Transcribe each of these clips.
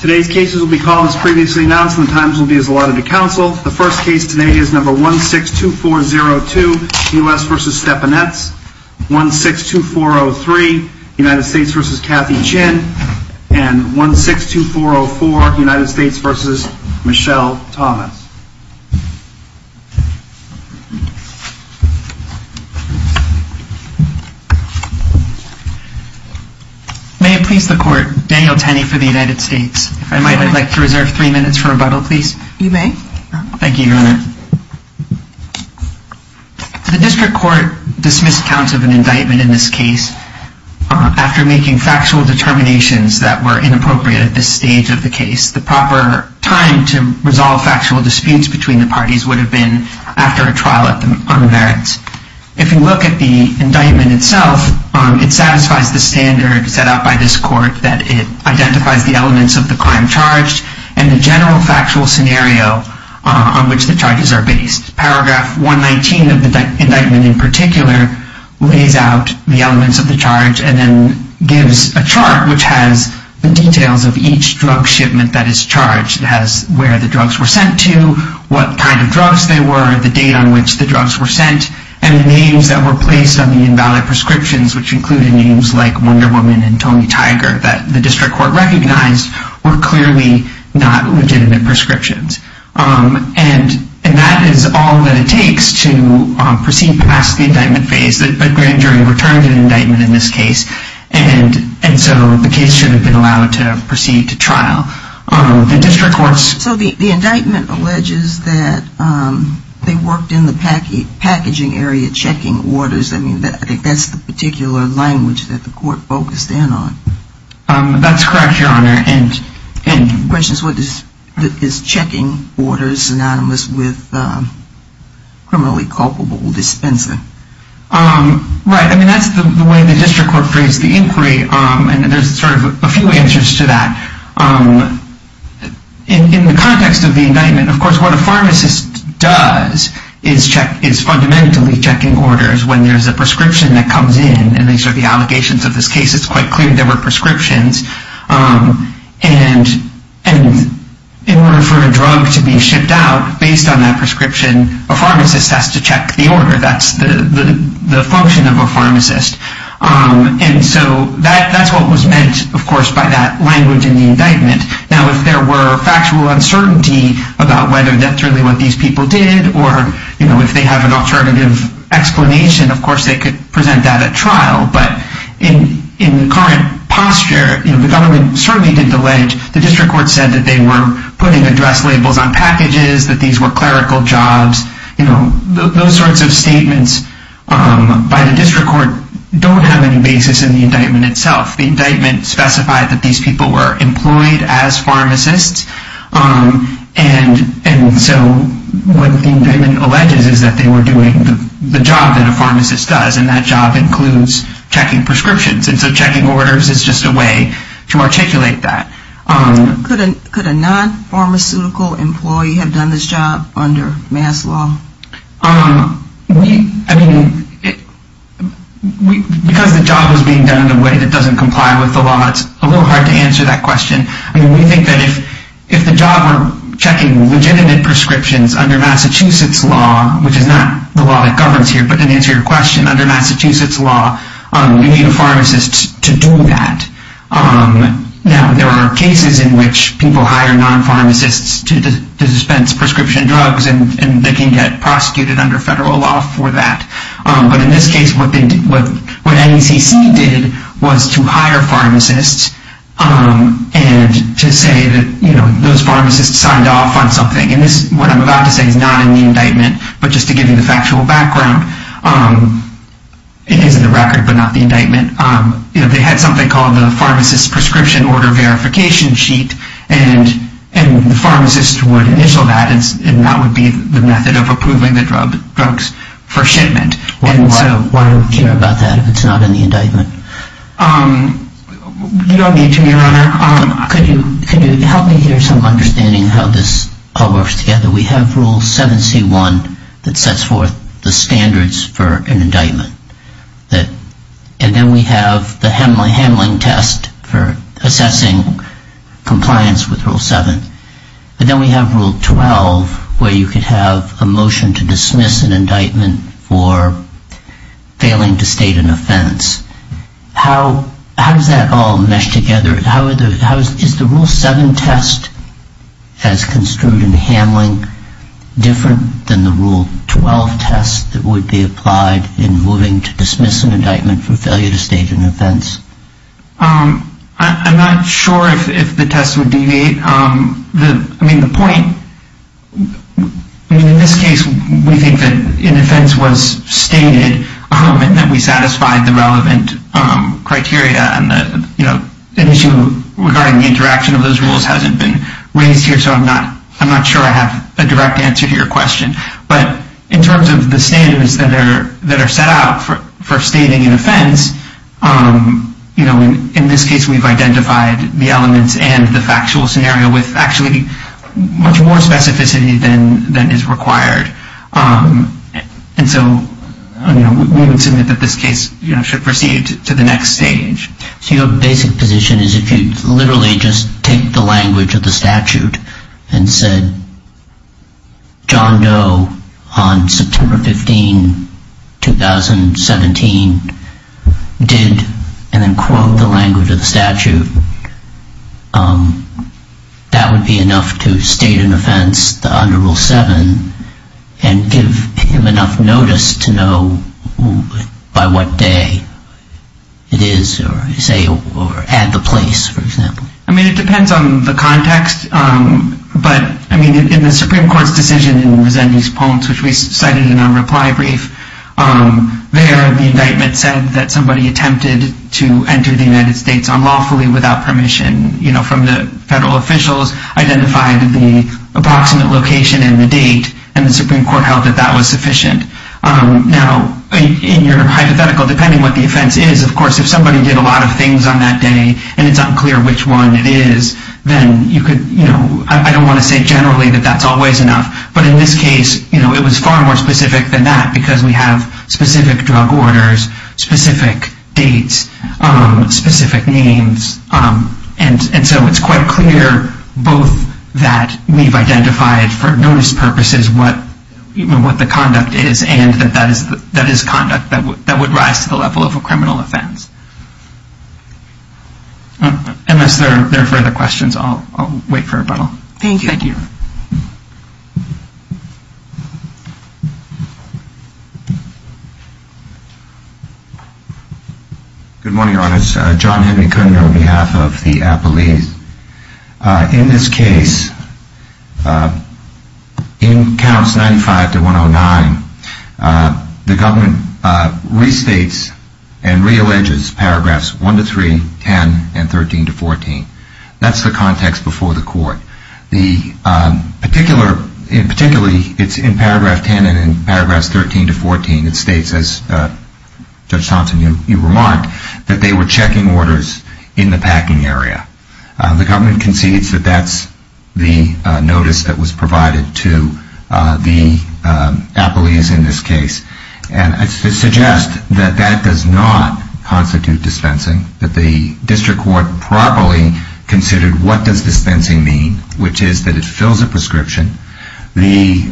162403 United States v. Kathy Chin 162404 United States v. Michelle Thomas May it please the Court, Daniel Tenney for the United States. If I might, I'd like to reserve three minutes for rebuttal, please. You may. Thank you, Your Honor. The District Court dismissed counts of an indictment in this case after making factual determinations that were inappropriate at this stage of the case. The proper time to resolve factual disputes between the parties would have been after a trial on the merits. If you look at the indictment itself, it satisfies the standard set out by this Court that it identifies the elements of the crime charged and the general factual scenario on which the charges are based. Paragraph 119 of the indictment in particular lays out the elements of the charge and then gives a chart which has the details of each drug shipment that is charged. It has where the drugs were sent to, what kind of drugs they were, the date on which the drugs were sent, and the names that were placed on the invalid prescriptions, which included names like Wonder Woman and Tony Tiger, that the District Court recognized were clearly not legitimate prescriptions. And that is all that it takes to proceed past the indictment phase. The grand jury returned an indictment in this case, and so the case should have been allowed to proceed to trial. The District Court's... So the indictment alleges that they worked in the packaging area checking orders. I mean, I think that's the particular language that the Court focused in on. That's correct, Your Honor. And the question is, is checking orders synonymous with criminally culpable dispensing? Right. I mean, that's the way the District Court phrased the inquiry, and there's sort of a few answers to that. In the context of the indictment, of course, what a pharmacist does is check, is fundamentally checking orders when there's a prescription that comes in, and these are the allegations of this case. It's quite clear there were prescriptions. And in order for a drug to be shipped out, based on that prescription, a pharmacist has to check the order. That's the function of a pharmacist. And so that's what was meant, of course, by that language in the indictment. Now, if there were factual uncertainty about whether that's really what these people did, or if they have an alternative explanation, of course they could present that at trial. But in current posture, the government certainly did allege the District Court said that they were putting address labels on packages, that these were clerical jobs. Those sorts of statements by the District Court don't have any basis in the indictment itself. The indictment specified that these people were employed as pharmacists, and so what the indictment alleges is that they were doing the job that a pharmacist does, and that job includes checking prescriptions. And so checking orders is just a way to articulate that. Could a non-pharmaceutical employee have done this job under mass law? I mean, because the job was being done in a way that doesn't comply with the law, it's a little hard to answer that question. I mean, we think that if the job were checking legitimate prescriptions under Massachusetts law, which is not the law that governs here, but to answer your question, under Massachusetts law, you need a pharmacist to do that. Now, there are cases in which people hire non-pharmacists to dispense prescription drugs, and they can get prosecuted under federal law for that. But in this case, what NECC did was to hire pharmacists and to say that those pharmacists signed off on something. And this, what I'm about to say is not in the indictment, but just to give you the factual background, it is in the record, but not the indictment. They had something called the Pharmacist Prescription Order Verification Sheet, and the pharmacist would initial that, and that would be the method of approving the drugs for shipment. Why do we care about that if it's not in the indictment? You don't need to, Your Honor. Could you help me hear some understanding of how this all works together? We have Rule 7C1 that sets forth the standards for an indictment. And then we have the handling test for assessing compliance with Rule 7. But then we have Rule 12, where you could have a motion to dismiss an indictment for failing to state an offense. How does that all mesh together? Is the Rule 7 test as construed in the handling different than the Rule 12 test that would be applied in moving to dismiss an indictment for failure to state an offense? I'm not sure if the test would deviate. The point, in this case, we think that an offense was stated and that we satisfied the relevant criteria. An issue regarding the interaction of those rules hasn't been raised here, so I'm not sure I have a direct answer to your question. But in terms of the standards that are set out for stating an offense, in this case, we've identified the elements and the factual scenario with actually much more specificity than is required. And so we would submit that this case should proceed to the next stage. So your basic position is if you literally just take the language of the statute and said, John Doe, on September 15, 2017, did, and then quote the language of the statute, that would be enough to state an offense under Rule 7 and give him enough notice to know by what day it is, or say, or at the place, for example? I mean, it depends on the context. But I mean, in the Supreme Court's decision in Resendee's poems, which we cited in our reply brief, there the indictment said that somebody attempted to enter the United States unlawfully without permission from the federal officials, identified the approximate location and the date, and the Supreme Court held that that was sufficient. Now, in your hypothetical, depending what the offense is, of course, if somebody did a lot of things on that day and it's unclear which one it is, then you could, you know, I don't want to say generally that that's always enough. But in this case, it was far more specific than that because we have specific drug orders, specific dates, specific names. And so it's quite clear both that we've identified for notice purposes what the conduct is and that that is conduct that would rise to the level of a criminal offense. Unless there are further questions, I'll wait for a rebuttal. Thank you. Thank you. Good morning, Your Honors. John Henry Cooner on behalf of the appellees. In this case, in counts 95 to 109, the government restates and realleges paragraphs 1 to 3, 10, and 13 to 14. That's the context before the court. The particular, in particular, it's in paragraph 10 and in paragraphs 13 to 14, it states, as Judge Thompson, you remarked, that they were checking orders in the packing area. The government concedes that that's the notice that was provided to the appellees in this case. And I suggest that that does not constitute dispensing. That the district court properly considered, what does dispensing mean? Which is that it fills a prescription. The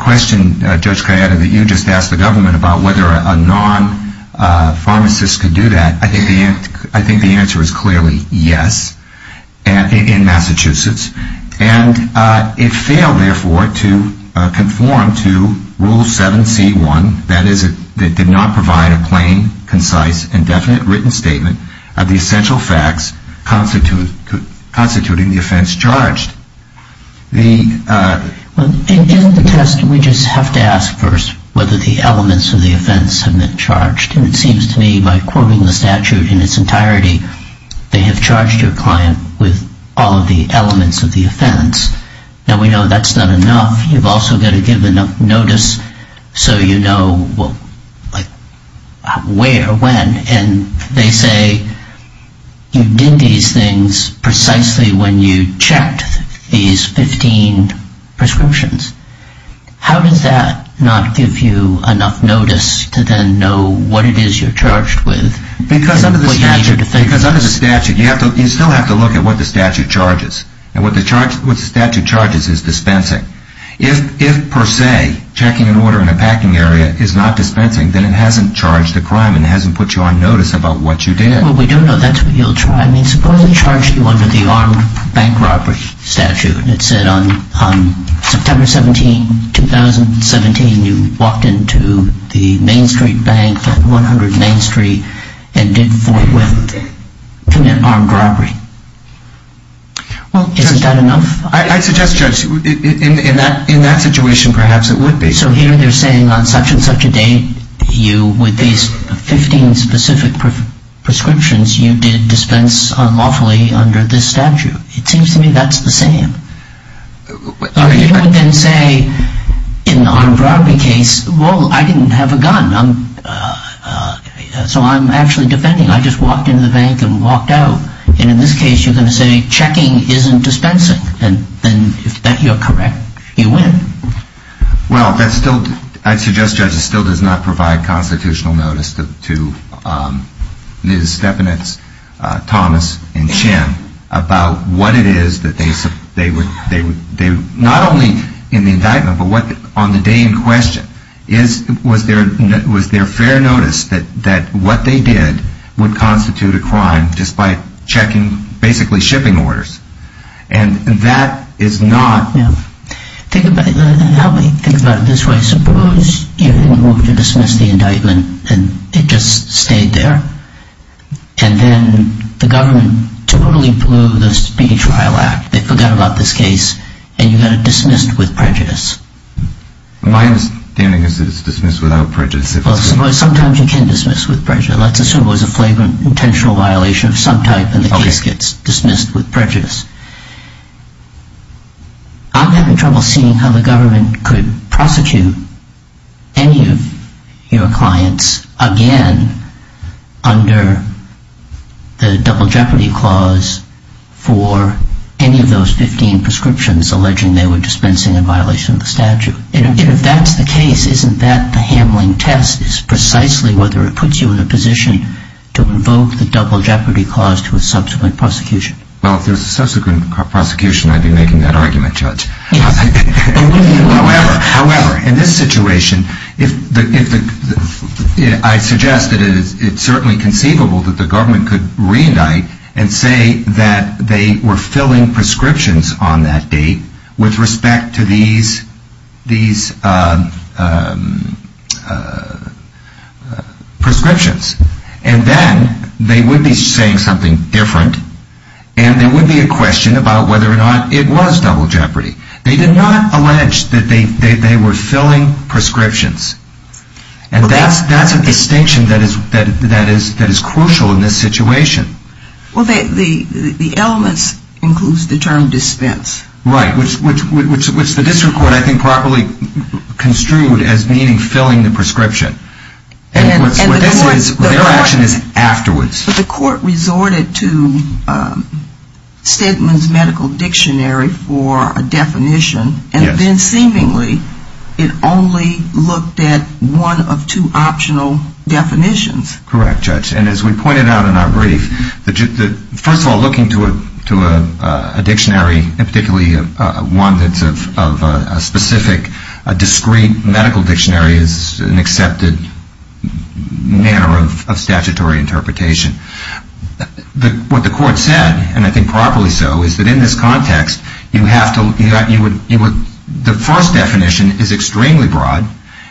question, Judge Kayeda, that you just asked the government about whether a non-pharmacist could do that, I think the answer is clearly yes, in Massachusetts. And it failed, therefore, to conform to Rule 7c1, that is, it did not provide a plain, concise, indefinite written statement of the essential facts constituting the offense charged. In the test, we just have to ask first whether the elements of the offense have been charged. And it seems to me, by quoting the statute in its entirety, they have charged your client with all of the elements of the offense. Now, we know that's not enough. You've also got to give enough notice so you know where, when. And they say you did these things precisely when you checked these 15 prescriptions. How does that not give you enough notice to then know what it is you're charged with? Because under the statute, you still have to look at what the statute charges. And what the statute charges is dispensing. If, per se, checking an order in a packing area is not dispensing, then it hasn't charged a crime and hasn't put you on notice about what you did. Well, we don't know. That's what you'll try. I mean, suppose they charge you under the armed bank robbery statute, and it said on September 17, 2017, you walked into the Main Street Bank, 100 Main Street, and did commit armed robbery. Well, I suggest, Judge, in that situation, perhaps it would be. So here they're saying on such and such a date, you, with these 15 specific prescriptions, you did dispense unlawfully under this statute. It seems to me that's the same. You would then say, in an armed robbery case, well, I didn't have a gun, so I'm actually defending. I just walked into the bank and walked out. And in this case, you're going to say checking isn't dispensing. And if you're correct, you win. Well, I suggest, Judge, it still does not provide constitutional notice to Ms. Stefanitz, Thomas, and Chen about what it is that they, not only in the indictment, but on the day in question, was there fair notice that what they did would constitute a crime just by checking, basically, shipping orders. And that is not. Help me think about it this way. Suppose you didn't want to dismiss the indictment, and it just stayed there. And then the government totally blew the speech trial act. They forgot about this case, and you got it dismissed with prejudice. My understanding is that it's dismissed without prejudice. Well, sometimes you can dismiss with prejudice. Let's assume it was a flagrant intentional violation of some type, and the case gets dismissed with prejudice. I'm having trouble seeing how the government could prosecute any of your clients again under the Double Jeopardy Clause for any of those 15 prescriptions alleging they were dispensing a violation of the statute. And if that's the case, isn't that the handling test is precisely whether it puts you in a position to invoke the Double Jeopardy Clause to a subsequent prosecution? Well, if there's a subsequent prosecution, I'd be making that argument, Judge. However, in this situation, I suggest that it's certainly conceivable that the government could reindict and say that they were filling prescriptions on that date with respect to these prescriptions. And then they would be saying something different, and there would be a question about whether or not it was Double Jeopardy. They did not allege that they were filling prescriptions. And that's a distinction that is crucial in this situation. Well, the elements includes the term dispense. Right, which the district court, I think, properly construed as meaning filling the prescription. Their action is afterwards. But the court resorted to Stedman's Medical Dictionary for a definition, and then seemingly it only looked at one of two optional definitions. Correct, Judge. And as we pointed out in our brief, first of all, looking to a dictionary, and particularly one that's of a specific, a discreet medical dictionary is an accepted manner of statutory interpretation. What the court said, and I think properly so, is that in this context, the first definition is extremely broad.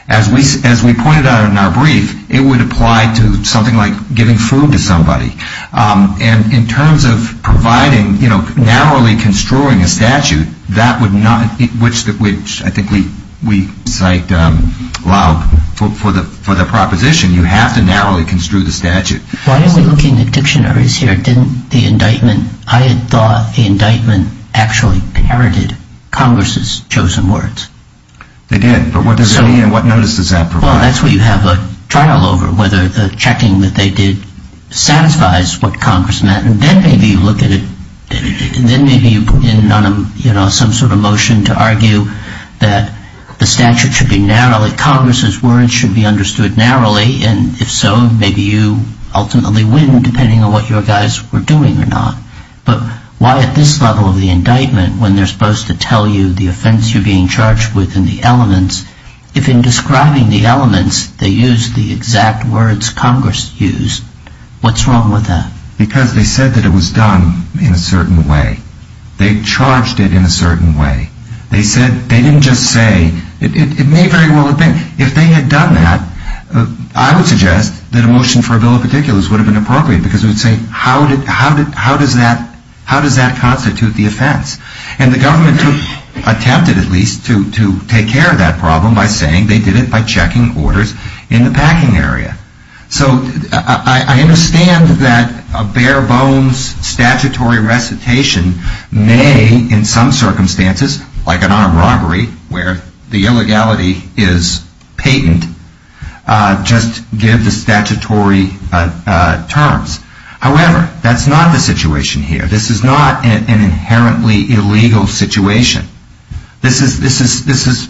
As we pointed out in our brief, it would apply to something like giving food to somebody. And in terms of providing, you know, narrowly construing a statute, that would not, which I think we cite for the proposition, you have to narrowly construe the statute. Why are we looking at dictionaries here? Didn't the indictment, I had thought the indictment actually inherited Congress's chosen words. They did. But what does it mean, and what notice does that provide? Well, that's what you have a trial over, whether the checking that they did satisfies what Congress meant. And then maybe you look at it, and then maybe you put in, you know, some sort of motion to argue that the statute should be narrowly, Congress's words should be understood narrowly. And if so, maybe you ultimately win, depending on what your guys were doing or not. But why at this level of the indictment, when they're supposed to tell you the offense you're being charged with and the elements, if in describing the elements, they use the exact words Congress used, what's wrong with that? Because they said that it was done in a certain way. They charged it in a certain way. They said, they didn't just say, it may very well have been. If they had done that, I would suggest that a motion for a bill of particulars would have been appropriate, because it would say, how does that constitute the offense? And the government attempted, at least, to take care of that problem by saying they did it by checking orders in the packing area. So I understand that a bare bones statutory recitation may, in some circumstances, like an armed robbery, where the illegality is patent, just give the statutory terms. However, that's not the situation here. This is not an inherently illegal situation. This is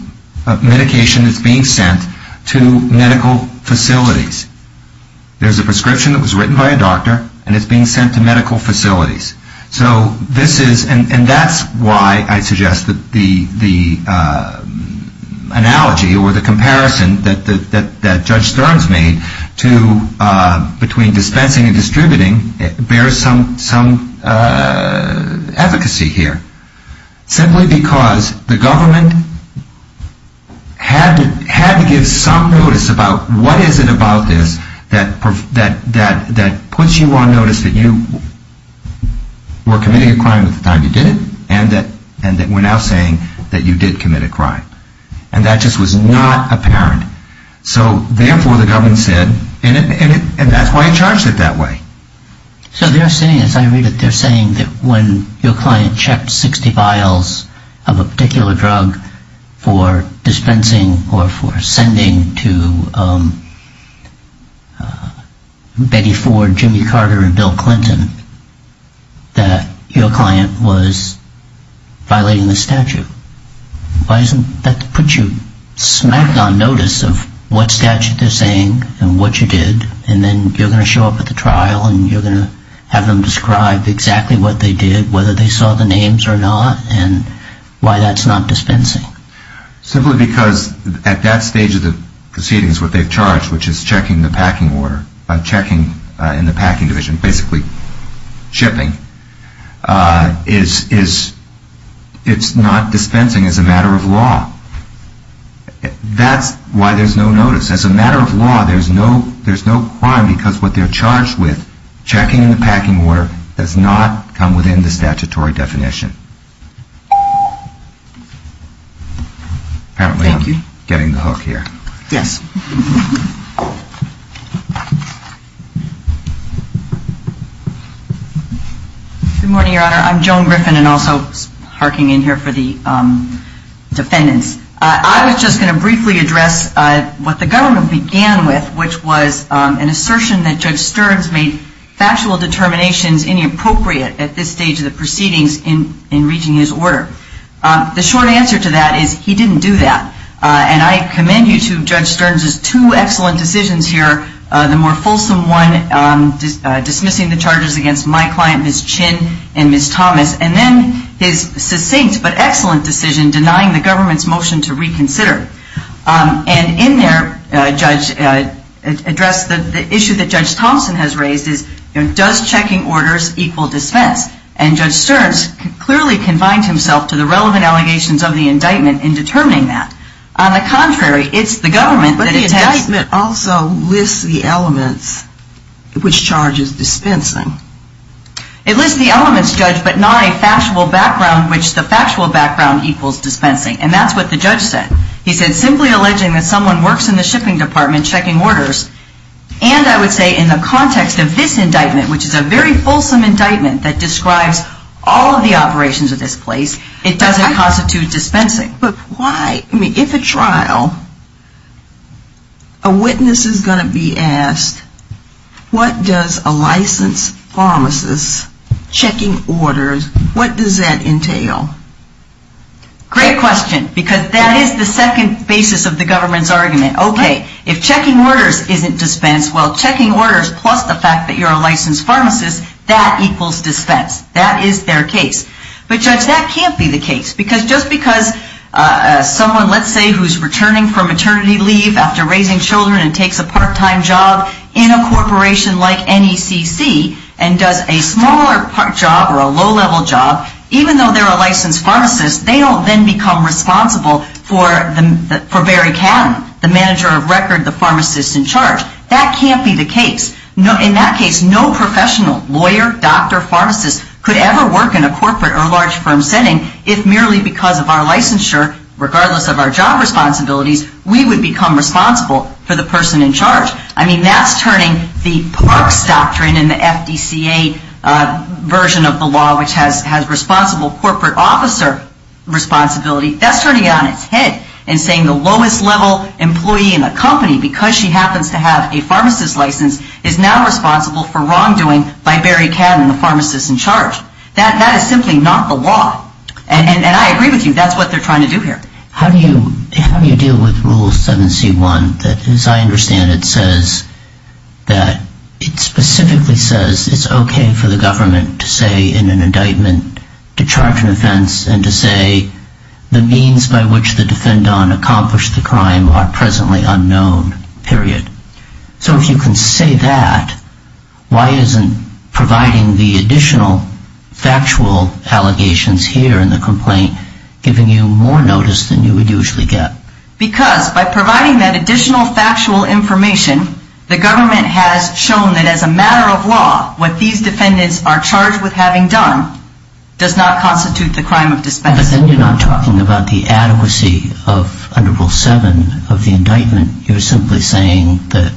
medication that's being sent to medical facilities. There's a prescription that was written by a doctor, and it's being sent to medical facilities. So this is, and that's why I suggest that the analogy or the comparison that Judge Stearns made between dispensing and distributing bears some efficacy here. Simply because the government had to give some notice about what is it about this that puts you on notice that you were committing a crime at the time you did it, and that we're now saying that you did commit a crime. And that just was not apparent. So therefore, the government said, and that's why he charged it that way. So they're saying, as I read it, they're saying that when your client checked 60 vials of a particular drug for dispensing or for sending to Betty Ford, Jimmy Carter, and Bill Clinton, that your client was violating the statute. Why doesn't that put you smack on notice of what statute they're saying and what you did, and then you're going to show up at the trial and you're going to have them describe exactly what they did, whether they saw the names or not, and why that's not dispensing? Simply because at that stage of the proceedings, what they've charged, which is checking the packing order, checking in the packing division, basically shipping, it's not dispensing as a matter of law. That's why there's no notice. As a matter of law, there's no crime because what they're charged with, checking the packing order, does not come within the statutory definition. Apparently I'm getting the hook here. Yes. Good morning, Your Honor. I'm Joan Griffin, and also parking in here for the defendants. I was just going to briefly address what the government began with, which was an assertion that Judge Stearns made factual determinations inappropriate at this stage of the proceedings in reaching his order. The short answer to that is he didn't do that. And I commend you to Judge Stearns' two excellent decisions here, the more fulsome one dismissing the charges against my client, Ms. Chin, and Ms. Thomas, and then his succinct but excellent decision denying the government's motion to reconsider. And in there, Judge addressed the issue that Judge Thompson has raised is, does checking orders equal dispense? And Judge Stearns clearly confined himself to the relevant allegations of the indictment in determining that. On the contrary, it's the government that attests. But the indictment also lists the elements which charges dispensing. It lists the elements, Judge, but not a factual background which the factual background equals dispensing. And that's what the judge said. He said, simply alleging that someone works in the shipping department checking orders, and I would say in the context of this indictment, which is a very fulsome indictment that describes all of the operations of this place, it doesn't constitute dispensing. But why? I mean, if a trial, a witness is going to be asked, what does a licensed pharmacist checking orders, what does that entail? Great question. Because that is the second basis of the government's argument. Okay. If checking orders isn't dispense, well, checking orders plus the fact that you're a licensed pharmacist, that equals dispense. That is their case. But, Judge, that can't be the case. Because just because someone, let's say, who's returning from maternity leave after raising children and takes a part-time job in a corporation like NECC, and does a smaller job or a low-level job, even though they're a licensed pharmacist, they don't then become responsible for Barry Catton, the manager of record, the pharmacist in charge. That can't be the case. In that case, no professional, lawyer, doctor, pharmacist, could ever work in a corporate or large firm setting if merely because of our licensure, regardless of our job responsibilities, we would become responsible for the person in charge. I mean, that's turning the Perks Doctrine in the FDCA version of the law, which has responsible corporate officer responsibility, that's turning it on its head and saying the lowest-level employee in the company, because she happens to have a pharmacist license, is now responsible for wrongdoing by Barry Catton, the pharmacist in charge. That is simply not the law. And I agree with you. That's what they're trying to do here. How do you deal with Rule 7C1 that, as I understand it, says that it specifically says it's okay for the government to say in an indictment to charge an offense and to say the means by which the defendant accomplished the crime are presently unknown, period. So if you can say that, why isn't providing the additional factual allegations here in the complaint giving you more notice than you would usually get? Because by providing that additional factual information, the government has shown that as a matter of law, what these defendants are charged with having done does not constitute the crime of dispensing. But then you're not talking about the adequacy of, under Rule 7, of the indictment. You're simply saying that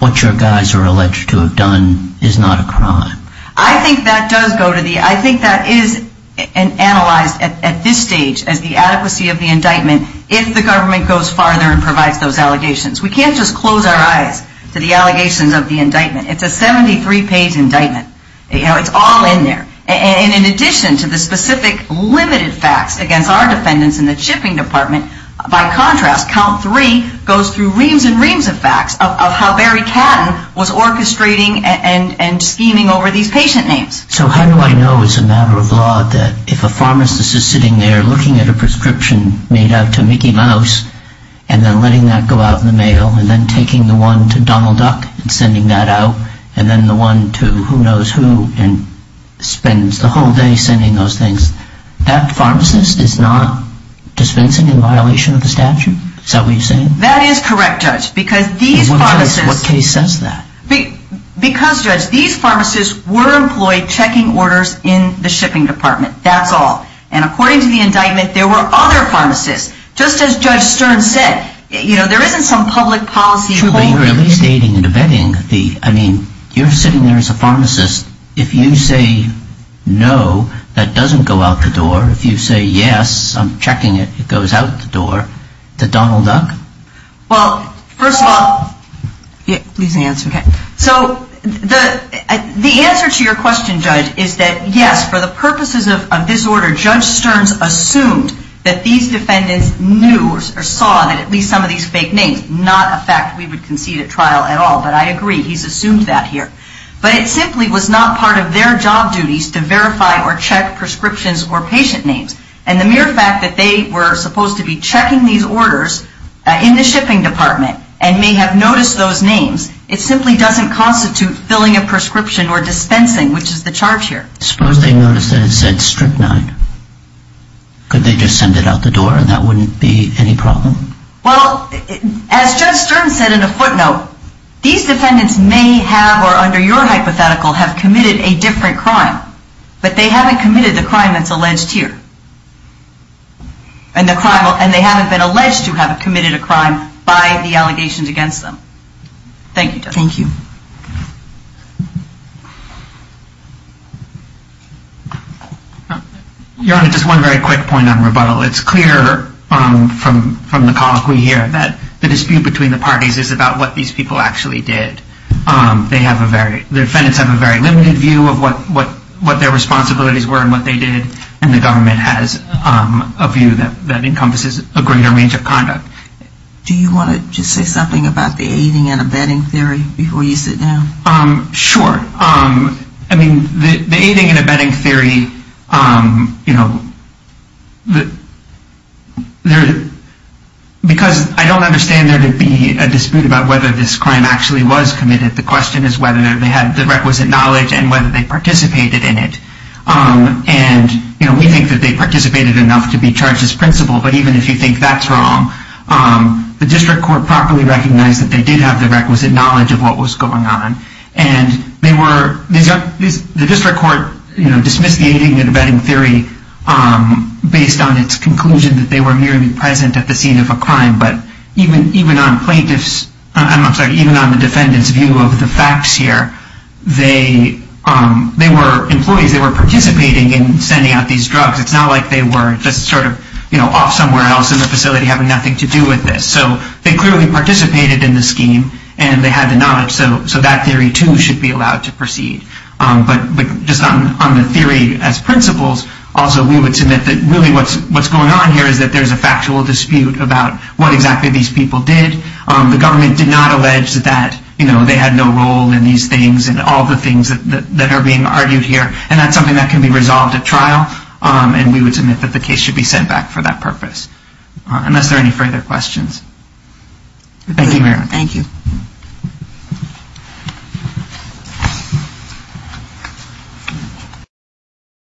what your guys are alleged to have done is not a crime. I think that does go to the, I think that is analyzed at this stage as the adequacy of the indictment if the government goes farther and provides those allegations. We can't just close our eyes to the allegations of the indictment. It's a 73-page indictment. You know, it's all in there. And in addition to the specific limited facts against our defendants in the shipping department, by contrast, Count 3 goes through reams and reams of facts of how Barry Catton was orchestrating and scheming over these patient names. So how do I know as a matter of law that if a pharmacist is sitting there looking at a prescription made out to Mickey Mouse and then letting that go out in the mail and then taking the one to Donald Duck and sending that out and then the one to who knows who and spends the whole day sending those things, that pharmacist is not dispensing in violation of the statute? Is that what you're saying? That is correct, Judge. Because these pharmacists... In what case says that? Because, Judge, these pharmacists were employed checking orders in the shipping department. That's all. And according to the indictment, there were other pharmacists. Just as Judge Stern said, you know, there isn't some public policy... But you're at least aiding and abetting the... I mean, you're sitting there as a pharmacist. If you say no, that doesn't go out the door. If you say yes, I'm checking it, it goes out the door. The Donald Duck? Well, first of all... Please answer. So the answer to your question, Judge, is that yes, for the purposes of this order, Judge Stern's assumed that these defendants knew or saw that at least some of these fake names, not a fact we would concede at trial at all. But I agree. He's assumed that here. But it simply was not part of their job duties to verify or check prescriptions or patient names. And the mere fact that they were supposed to be checking these orders in the shipping department and may have noticed those names, it simply doesn't constitute filling a prescription or dispensing, which is the charge here. Suppose they noticed that it said Strychnine. Could they just send it out the door and that wouldn't be any problem? Well, as Judge Stern said in a footnote, these defendants may have, or under your hypothetical, have committed a different crime. But they haven't committed the crime that's alleged here. And they haven't been alleged to have committed a crime by the allegations against them. Thank you, Judge. Thank you. Your Honor, just one very quick point on rebuttal. It's clear from the call we hear that the dispute between the parties is about what these people actually did. The defendants have a very limited view of what their responsibilities were and what they did. And the government has a view that encompasses a greater range of conduct. Do you want to just say something about the aiding and abetting theory before you sit down? Sure. I mean, the aiding and abetting theory, you know, because I don't understand there to be a dispute about whether this crime actually was committed. The question is whether they had the requisite knowledge and whether they participated in it. And, you know, we think that they participated enough to be charged as principal. But even if you think that's wrong, the district court properly recognized that they did have the requisite knowledge of what was going on. And they were, the district court dismissed the aiding and abetting theory based on its conclusion that they were merely present at the scene of a crime. But even on plaintiff's, I'm sorry, even on the defendant's view of the facts here, they were employees, they were participating in sending out these drugs. It's not like they were just sort of, you know, off somewhere else in the facility having nothing to do with this. So they clearly participated in the scheme and they had the knowledge. So that theory too should be allowed to proceed. But just on the theory as principles, also we would submit that really what's going on here is that there's a factual dispute about what exactly these people did. The government did not allege that, you know, they had no role in these things and all the things that are being argued here. And that's something that can be resolved at trial. And we would submit that the case should be sent back for that purpose. Unless there are any further questions. Thank you, Mary. Thank you.